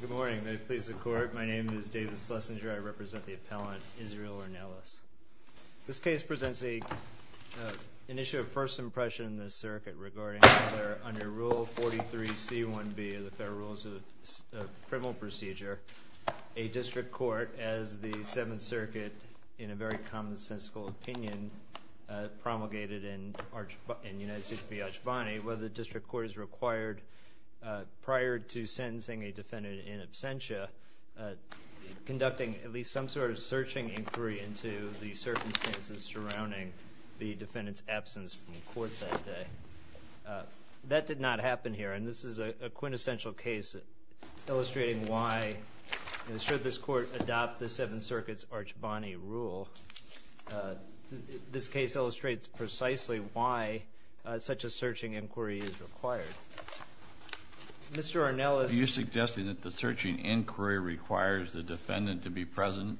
Good morning. May it please the Court, my name is David Schlesinger. I represent the appellant, Israel Ornelas. This case presents an issue of first impression in this circuit regarding whether, under Rule 43c1b of the Federal Rules of Criminal Procedure, a district court, as the Seventh Circuit, in a very commonsensical opinion, promulgated in United States v. Archbonny, whether the district court is required, prior to sentencing a defendant in absentia, conducting at least some sort of searching inquiry into the circumstances surrounding the defendant's absence from court that day. That did not happen here, and this is a quintessential case illustrating why, should this court adopt the Seventh Circuit's Archbonny rule, this case illustrates precisely why such a searching inquiry is required. Mr. Ornelas Are you suggesting that the searching inquiry requires the defendant to be present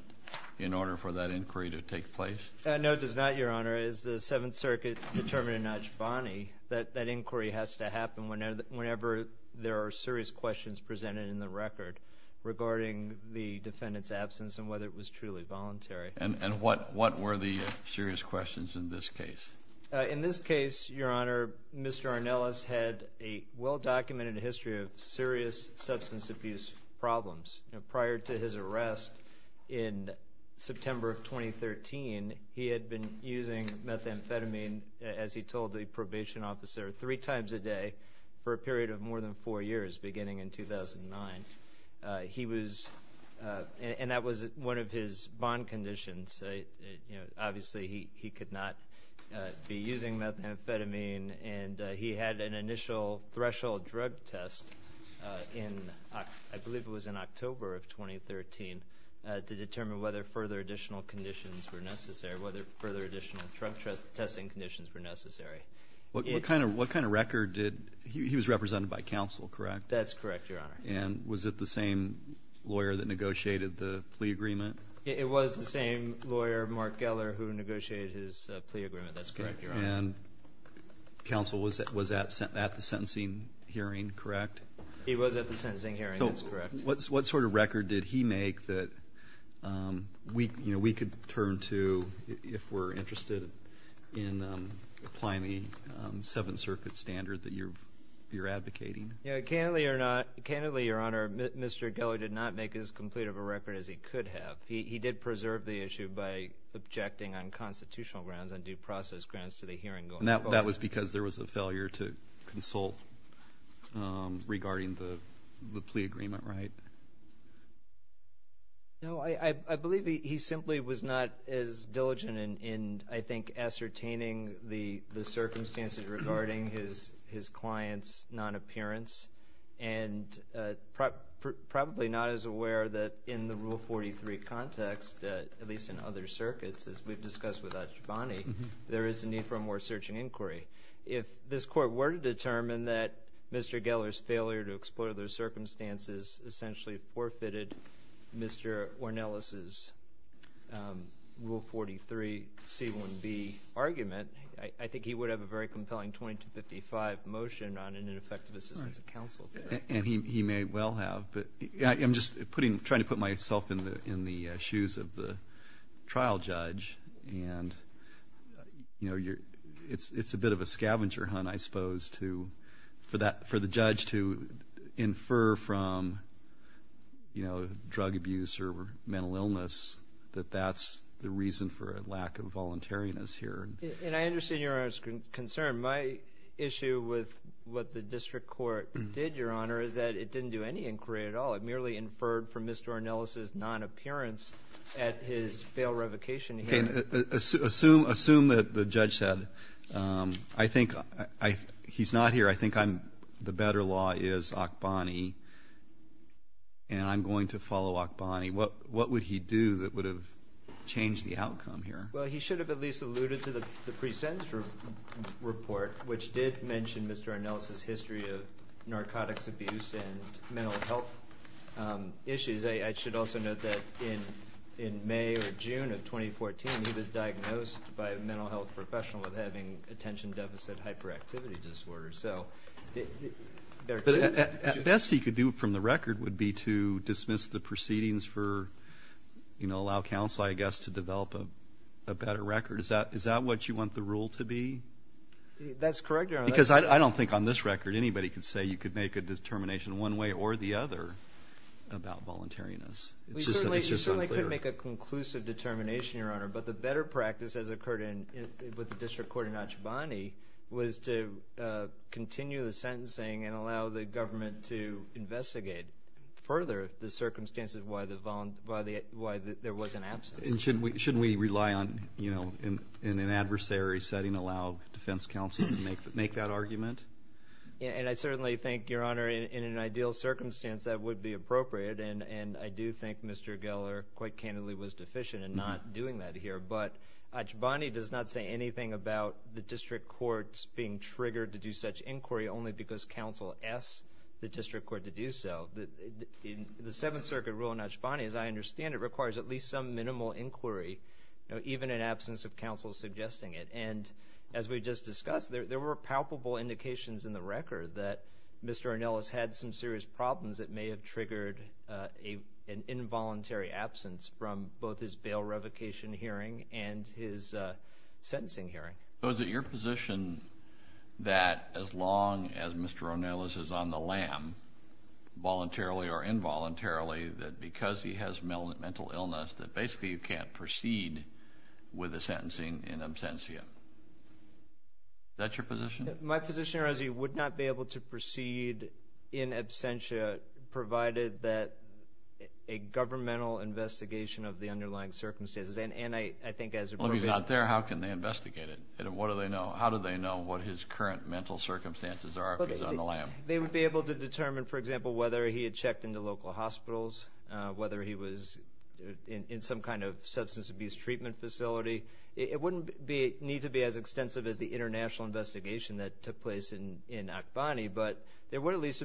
in order for that inquiry to take place? No, it does not, Your Honor. As the Seventh Circuit determined in Archbonny, that that inquiry has to happen whenever there are serious questions presented in the record regarding the defendant's absence and whether it was truly voluntary. And what were the serious questions in this case? In this case, Your Honor, Mr. Ornelas had a well-documented history of serious substance abuse problems. Prior to his arrest in September of 2013, he had been using methamphetamine, as he told the probation officer, three times a day for a period of more than four years, beginning in 2009. He was, and that was one of his bond conditions. Obviously, he could not be using methamphetamine, and he had an initial threshold drug test in, I believe it was in October of 2013, to determine whether further additional conditions were necessary, whether further additional drug testing conditions were necessary. What kind of record did he – he was represented by counsel, correct? That's correct, Your Honor. And was it the same lawyer that negotiated the plea agreement? It was the same lawyer, Mark Geller, who negotiated his plea agreement. That's correct, Your Honor. And counsel was at the sentencing hearing, correct? He was at the sentencing hearing. That's correct. What sort of record did he make that we could turn to if we're interested in applying the Seventh Circuit standard that you're advocating? Candidly, Your Honor, Mr. Geller did not make as complete of a record as he could have. He did preserve the issue by objecting on constitutional grounds, on due process grounds, to the hearing going forward. That was because there was a failure to consult regarding the plea agreement, right? No, I believe he simply was not as diligent in, I think, ascertaining the circumstances regarding his client's non-appearance, and probably not as aware that in the Rule 43 context, at least in other circuits, as we've discussed with Adjabani, there is a need for more search and inquiry. If this Court were to determine that Mr. Geller's failure to explore those circumstances essentially forfeited Mr. Ornelas' Rule 43, C-1B argument, I think he would have a very compelling 2255 motion on an ineffective assistance of counsel. And he may well have. I'm just trying to put myself in the shoes of the trial judge. And, you know, it's a bit of a scavenger hunt, I suppose, for the judge to infer from, you know, drug abuse or mental illness that that's the reason for a lack of voluntariness here. And I understand Your Honor's concern. My issue with what the district court did, Your Honor, is that it didn't do any inquiry at all. It merely inferred from Mr. Ornelas' non-appearance at his failed revocation hearing. Okay. Assume that the judge said, I think he's not here, I think the better law is Akbani and I'm going to follow Akbani. What would he do that would have changed the outcome here? Well, he should have at least alluded to the pre-sentence report, which did mention Mr. Ornelas' history of narcotics abuse and mental health issues. I should also note that in May or June of 2014, he was diagnosed by a mental health professional with having attention deficit hyperactivity disorder. So there are two. The best he could do from the record would be to dismiss the proceedings for, you know, allow counsel, I guess, to develop a better record. Is that what you want the rule to be? That's correct, Your Honor. Because I don't think on this record anybody could say you could make a determination one way or the other about voluntariness. It's just unclear. You certainly could make a conclusive determination, Your Honor. But the better practice has occurred with the district court in Akbani was to continue the sentencing and allow the government to investigate further the circumstances why there was an absence. And shouldn't we rely on, you know, in an adversary setting allow defense counsel to make that argument? Yeah. And I certainly think, Your Honor, in an ideal circumstance that would be appropriate. And I do think Mr. Geller quite candidly was deficient in not doing that here. But Akbani does not say anything about the district courts being triggered to do such inquiry only because counsel asks the district court to do so. The Seventh Circuit rule in Akbani, as I understand it, requires at least some minimal inquiry, you know, even in absence of counsel suggesting it. And as we just discussed, there were palpable indications in the record that Mr. Ronelis had some serious problems that may have triggered an involuntary absence from both his bail revocation hearing and his sentencing hearing. So is it your position that as long as Mr. Ronelis is on the lam voluntarily or involuntarily that because he has mental illness that basically you can't proceed with the sentencing in absentia? Is that your position? My position, Your Honor, is he would not be able to proceed in absentia provided that a governmental investigation of the underlying circumstances and I think as appropriate Well, if he's not there, how can they investigate it? What do they know? How do they know what his current mental circumstances are if he's on the lam? They would be able to determine, for example, whether he had checked into local hospitals, whether he was in some kind of substance abuse treatment facility. It wouldn't need to be as extensive as the international investigation that took place in Akbani, but there would at least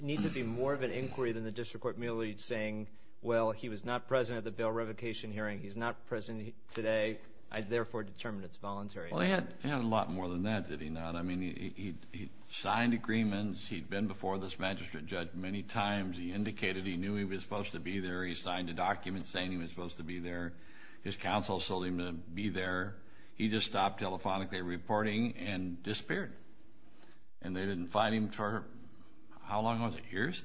need to be more of an inquiry than the district court merely saying, well, he was not present at the bail revocation hearing. He's not present today. I therefore determined it's voluntary. Well, he had a lot more than that, did he not? I mean, he signed agreements. He'd been before this magistrate judge many times. He indicated he knew he was supposed to be there. He signed a document saying he was supposed to be there. His counsel told him to be there. He just stopped telephonically reporting and disappeared. And they didn't find him for, how long was it? Years?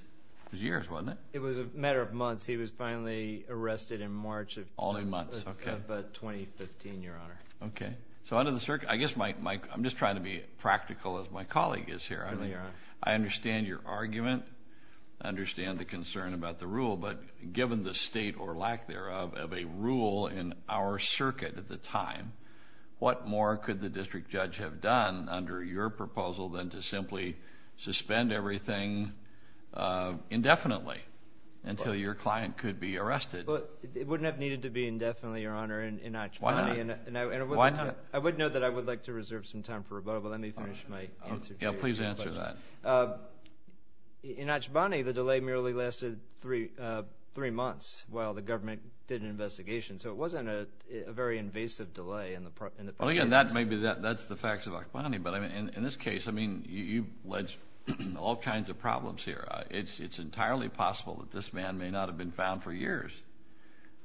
It was years, wasn't it? It was a matter of months. He was finally arrested in March of 2015, Your Honor. Okay. So under the circumstances, I guess I'm just trying to be practical as my colleague is here. I understand your argument. I understand the concern about the rule. But given the state or lack thereof of a rule in our circuit at the time, what more could the district judge have done under your proposal than to simply suspend everything indefinitely until your client could be arrested? It wouldn't have needed to be indefinitely, Your Honor. Why not? I would note that I would like to reserve some time for rebuttal. Let me finish my answer. Yeah, please answer that. In Ashbani, the delay merely lasted three months while the government did an investigation. So it wasn't a very invasive delay in the proceedings. Well, again, that's the facts of Ashbani. But in this case, I mean, you've led to all kinds of problems here. It's entirely possible that this man may not have been found for years.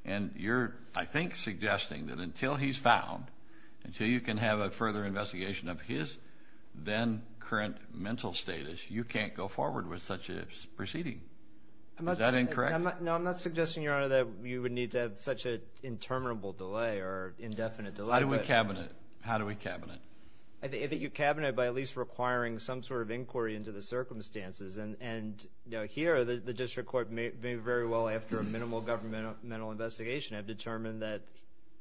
And you're, I think, suggesting that until he's found, until you can have a further investigation of his then current mental status, you can't go forward with such a proceeding. Is that incorrect? No, I'm not suggesting, Your Honor, that you would need to have such an interminable delay or indefinite delay. How do we cabinet? How do we cabinet? I think you cabinet by at least requiring some sort of inquiry into the circumstances. And here, the district court may very well, after a minimal governmental investigation, have determined that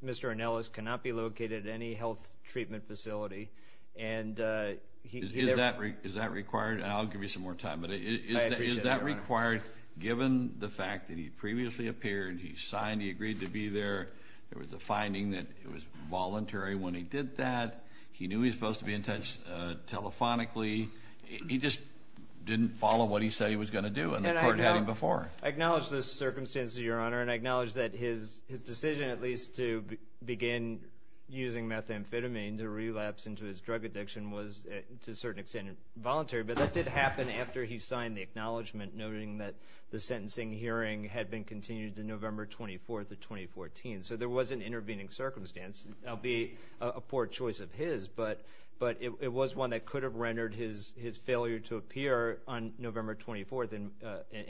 Mr. Anellis cannot be located at any health treatment facility. Is that required? I'll give you some more time. I appreciate that, Your Honor. Is that required, given the fact that he previously appeared, he signed, he agreed to be there, there was a finding that it was voluntary when he did that, he knew he was supposed to be in touch telephonically, he just didn't follow what he said he was going to do, and the court had him before. I acknowledge those circumstances, Your Honor. And I acknowledge that his decision, at least, to begin using methamphetamine to relapse into his drug addiction was, to a certain extent, voluntary. But that did happen after he signed the acknowledgment, noting that the sentencing hearing had been continued to November 24th of 2014. So there was an intervening circumstance. That would be a poor choice of his, but it was one that could have rendered his failure to appear on November 24th an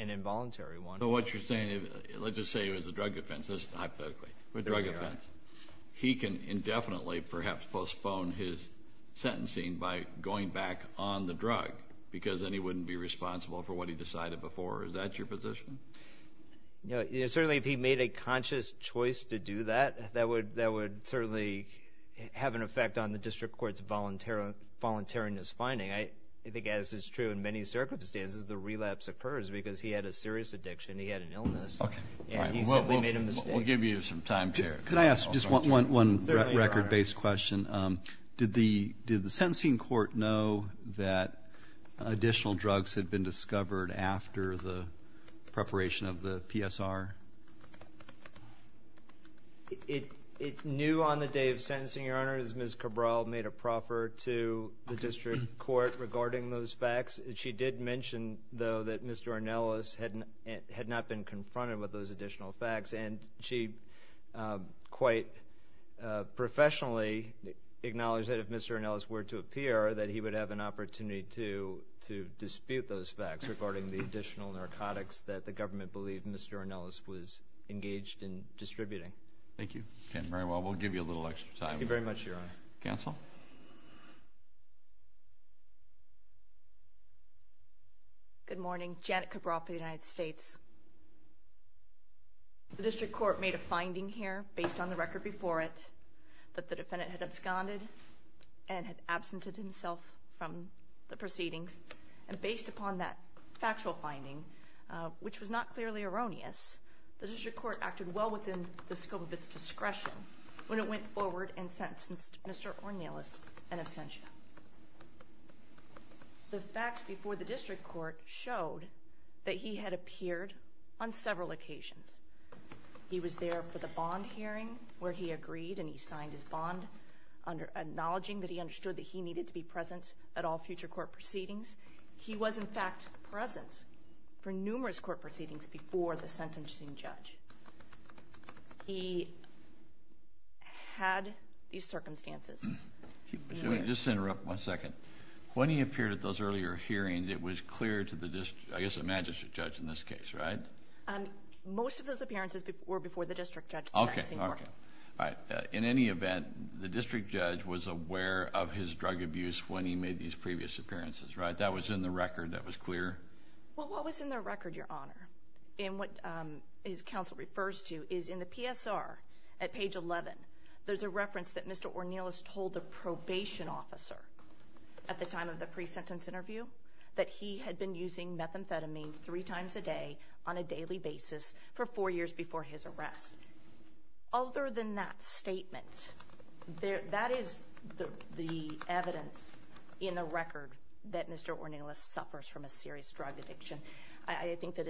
involuntary one. So what you're saying, let's just say it was a drug offense, just hypothetically, a drug offense. He can indefinitely, perhaps, postpone his sentencing by going back on the drug because then he wouldn't be responsible for what he decided before. Is that your position? Certainly, if he made a conscious choice to do that, that would certainly have an effect on the district court's voluntariness finding. I think, as is true in many circumstances, the relapse occurs because he had a serious addiction. He had an illness, and he simply made a mistake. We'll give you some time here. Can I ask just one record-based question? Did the sentencing court know that additional drugs had been discovered after the preparation of the PSR? It knew on the day of sentencing, Your Honor, as Ms. Cabral made a proffer to the district court regarding those facts. She did mention, though, that Mr. Ornelas had not been confronted with those additional facts, and she quite professionally acknowledged that if Mr. Ornelas were to appear, that he would have an opportunity to dispute those facts regarding the additional narcotics that the government believed Mr. Ornelas was engaged in distributing. Thank you. Very well, we'll give you a little extra time. Thank you very much, Your Honor. Counsel? Good morning. Janet Cabral for the United States. The district court made a finding here, based on the record before it, that the defendant had absconded and had absented himself from the proceedings. And based upon that factual finding, which was not clearly erroneous, the district court acted well within the scope of its discretion when it went forward and sentenced Mr. Ornelas an absentia. The facts before the district court showed that he had appeared on several occasions. He was there for the bond hearing, where he agreed and he signed his bond, acknowledging that he understood that he needed to be present at all future court proceedings. He was, in fact, present for numerous court proceedings before the sentencing judge. He had these circumstances. Let me just interrupt one second. When he appeared at those earlier hearings, it was clear to the district, I guess the magistrate judge in this case, right? Most of those appearances were before the district judge. Okay, okay. In any event, the district judge was aware of his drug abuse when he made these previous appearances, right? That was in the record. That was clear? Well, what was in the record, Your Honor, and what his counsel refers to is in the PSR at page 11, there's a reference that Mr. Ornelas told a probation officer at the time of the pre-sentence interview that he had been using methamphetamine three times a day on a daily basis for four years before his arrest. Other than that statement, that is the evidence in the record that Mr. Ornelas suffers from a serious drug addiction. I think that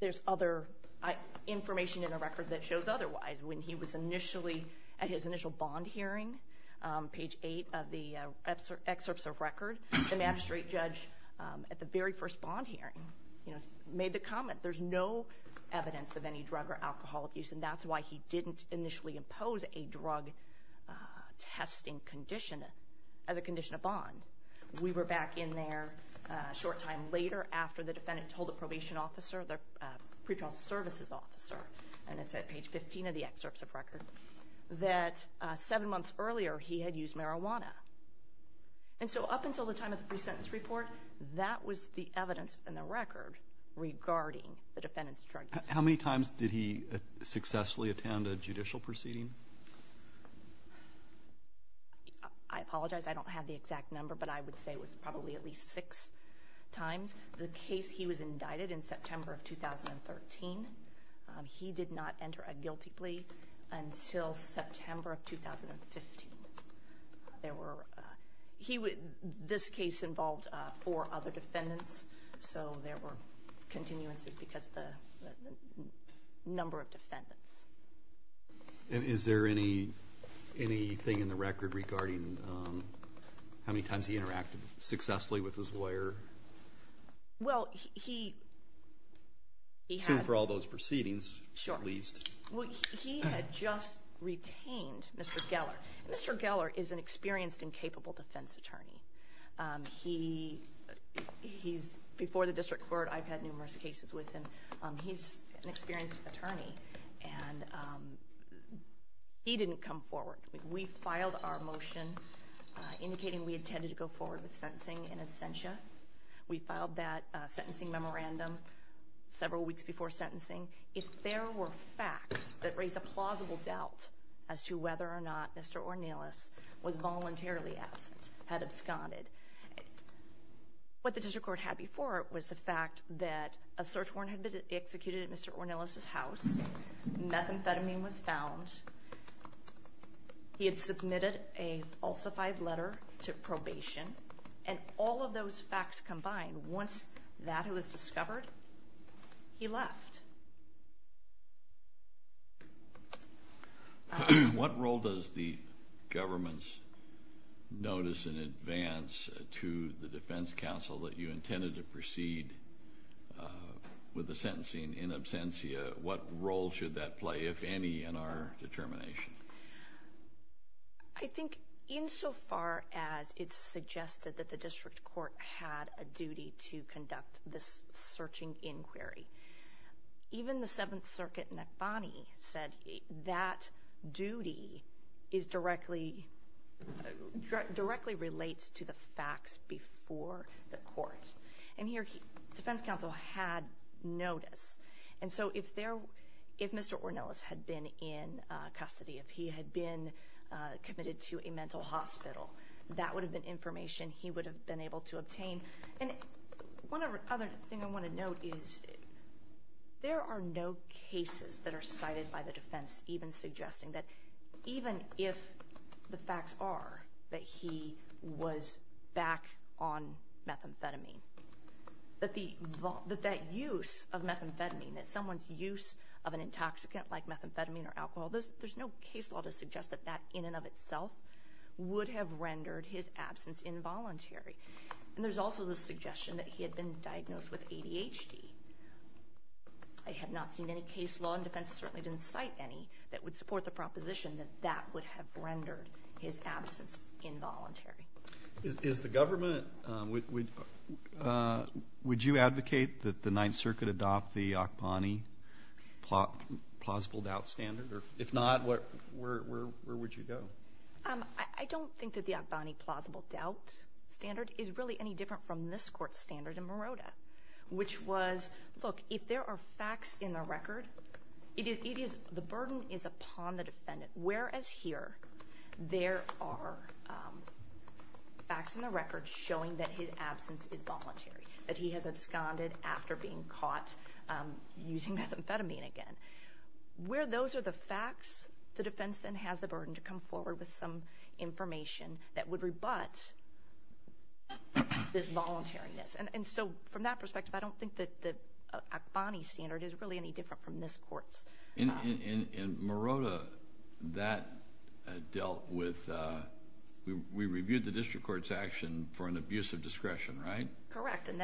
there's other information in the record that shows otherwise. When he was initially at his initial bond hearing, page 8 of the excerpts of record, the magistrate judge at the very first bond hearing made the comment there's no evidence of any drug or alcohol abuse and that's why he didn't initially impose a drug testing condition as a condition of bond. We were back in there a short time later after the defendant told the probation officer, the pretrial services officer, and it's at page 15 of the excerpts of record, that seven months earlier he had used marijuana. And so up until the time of the pre-sentence report, that was the evidence in the record regarding the defendant's drug use. How many times did he successfully attend a judicial proceeding? I apologize, I don't have the exact number, but I would say it was probably at least six times. The case he was indicted in September of 2013, he did not enter a guilty plea until September of 2015. This case involved four other defendants, so there were continuances because of the number of defendants. And is there anything in the record regarding how many times he interacted successfully with his lawyer? Well, he... Assuming for all those proceedings, at least. Sure. He had just retained Mr. Geller. Mr. Geller is an experienced and capable defense attorney. He's... Before the district court, I've had numerous cases with him. He's an experienced attorney, and he didn't come forward. We filed our motion indicating we intended to go forward with sentencing in absentia. We filed that sentencing memorandum several weeks before sentencing. If there were facts that raised a plausible doubt as to whether or not Mr. Ornelas was voluntarily absent, had absconded, what the district court had before it was the fact that a search warrant had been executed at Mr. Ornelas' house, methamphetamine was found, he had submitted a falsified letter to probation, and all of those facts combined, once that was discovered, he left. What role does the government notice in advance to the defense counsel that you intended to proceed with the sentencing in absentia? What role should that play, if any, in our determination? I think, insofar as it's suggested that the district court had a duty to conduct this searching inquiry, even the Seventh Circuit, Nekbani said that duty directly relates to the facts before the court. And here, defense counsel had notice. And so, if Mr. Ornelas had been in custody, if he had been committed to a mental hospital, that would have been information he would have been able to obtain. And one other thing I want to note is there are no cases that are cited by the defense even suggesting that even if the facts are that he was back on methamphetamine, that that use of methamphetamine, that someone's use of an intoxicant like methamphetamine or alcohol, there's no case law to suggest that that in and of itself would have rendered his absence involuntary. And there's also the suggestion that he had been diagnosed with ADHD. I have not seen any case law and defense certainly didn't cite any that would support the proposition that that would have rendered his absence involuntary. Is the government, would you advocate that the 9th Circuit adopt the Akbani plausible doubt standard? If not, where would you go? I don't think that the Akbani plausible doubt standard is really any different from this Court's standard in Marotta, which was look, if there are facts in the record, the burden is upon the defendant, whereas here there are facts in the record showing that his absence is voluntary, that he has absconded after being caught using methamphetamine again. Where those are the facts, the defense then has the burden to come forward with some information that would rebut this voluntariness. And so from that perspective I don't think that the Akbani standard is really any different from this Court's. In Marotta, that dealt with, we reviewed the District Court's action for an abuse of discretion, right? Correct. And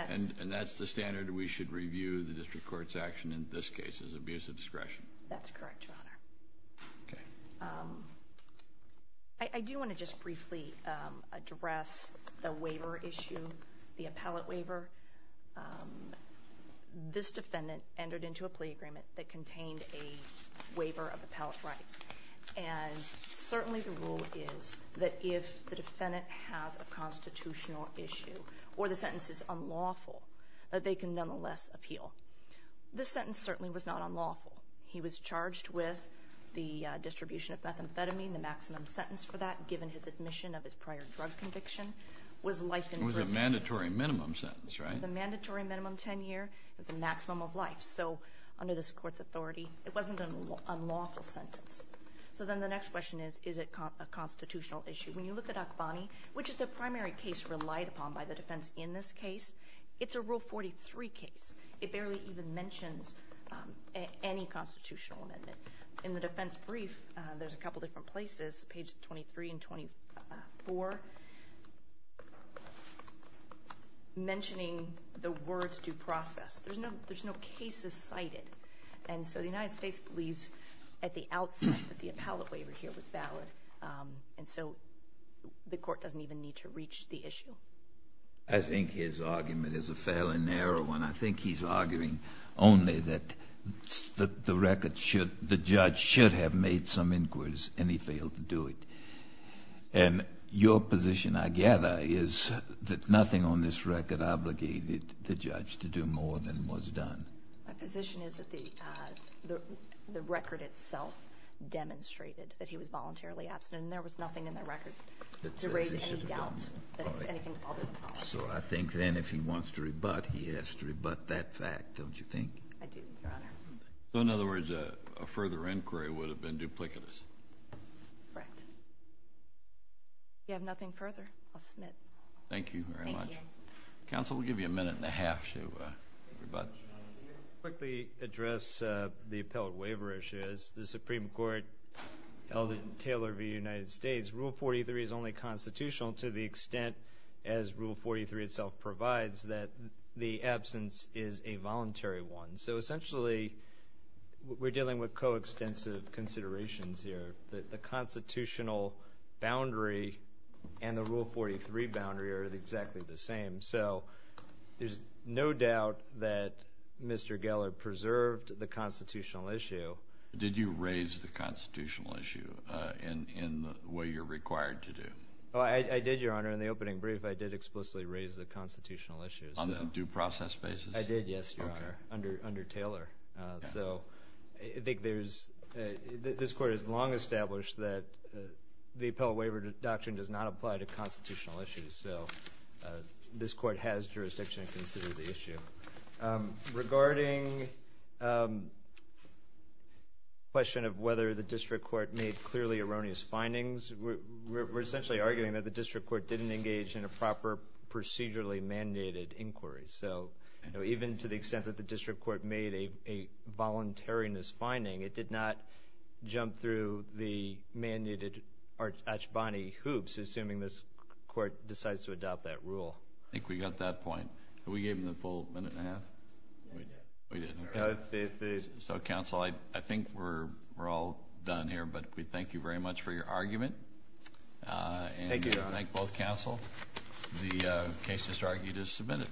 that's the standard we should review the District Court's action in this case is abuse of discretion. That's correct, Your Honor. Okay. I do want to just briefly address the waiver issue, the appellate waiver. This defendant entered into a plea agreement that contained a waiver of appellate rights and certainly the rule is that if the defendant has a constitutional issue or the sentence is unlawful that they can nonetheless appeal. This sentence certainly was not unlawful. He was charged with the distribution of methamphetamine. The maximum sentence for that, given his admission of his prior drug conviction, was life imprisonment. It was a mandatory minimum sentence, right? It was a mandatory minimum 10-year. It was a maximum of life. So under this Court's authority, it wasn't an unlawful sentence. So then the next question is, is it a which is the primary case relied upon by the defense in this case. It's a Rule 43 case. It barely even mentions any constitutional amendment. In the defense brief, there's a couple different places, page 23 and 24, mentioning the words due process. There's no cases cited. And so the United States believes at the outset that the appellate waiver here was valid and so the Court doesn't even need to reach the issue. I think his argument is a fairly narrow one. I think he's arguing only that the record should the judge should have made some inquiries and he failed to do it. And your position, I gather, is that nothing on this record obligated the judge to do more than was done. My position is that the record itself demonstrated that he was voluntarily absent and there was nothing in the record to raise any doubt. So I think then if he wants to rebut, he has to rebut that fact, don't you think? I do, Your Honor. So in other words, a further inquiry would have been duplicitous. Correct. If you have nothing further, I'll submit. Thank you very much. Counsel, we'll give you a minute and a half to rebut. Quickly address the Supreme Court held in Taylor v. United States. Rule 43 is only constitutional to the extent as Rule 43 itself provides that the absence is a voluntary one. So essentially we're dealing with coextensive considerations here. The constitutional boundary and the Rule 43 boundary are exactly the same. So there's no doubt that Mr. Geller preserved the constitutional issue. Did you raise the constitutional issue in the way you're required to do? I did, Your Honor. In the opening brief, I did explicitly raise the constitutional issue. On a due process basis? I did, yes, Your Honor, under Taylor. So I think there's this Court has long established that the Appellate Waiver Doctrine does not apply to constitutional issues. So this Court has jurisdiction to consider the issue. Regarding the question of whether the District Court made clearly erroneous findings, we're essentially arguing that the District Court didn't engage in a proper procedurally mandated inquiry. So even to the extent that the District Court made a voluntariness finding, it did not jump through the mandated Archibany hoops, assuming this Court decides to adopt that rule. I think we got that point. Did we give him the full minute and a half? We did. So, Counsel, I think we're all done here, but we thank you very much for your argument. Thank you, Your Honor. Thank both Counsel. The case that's argued is submitted.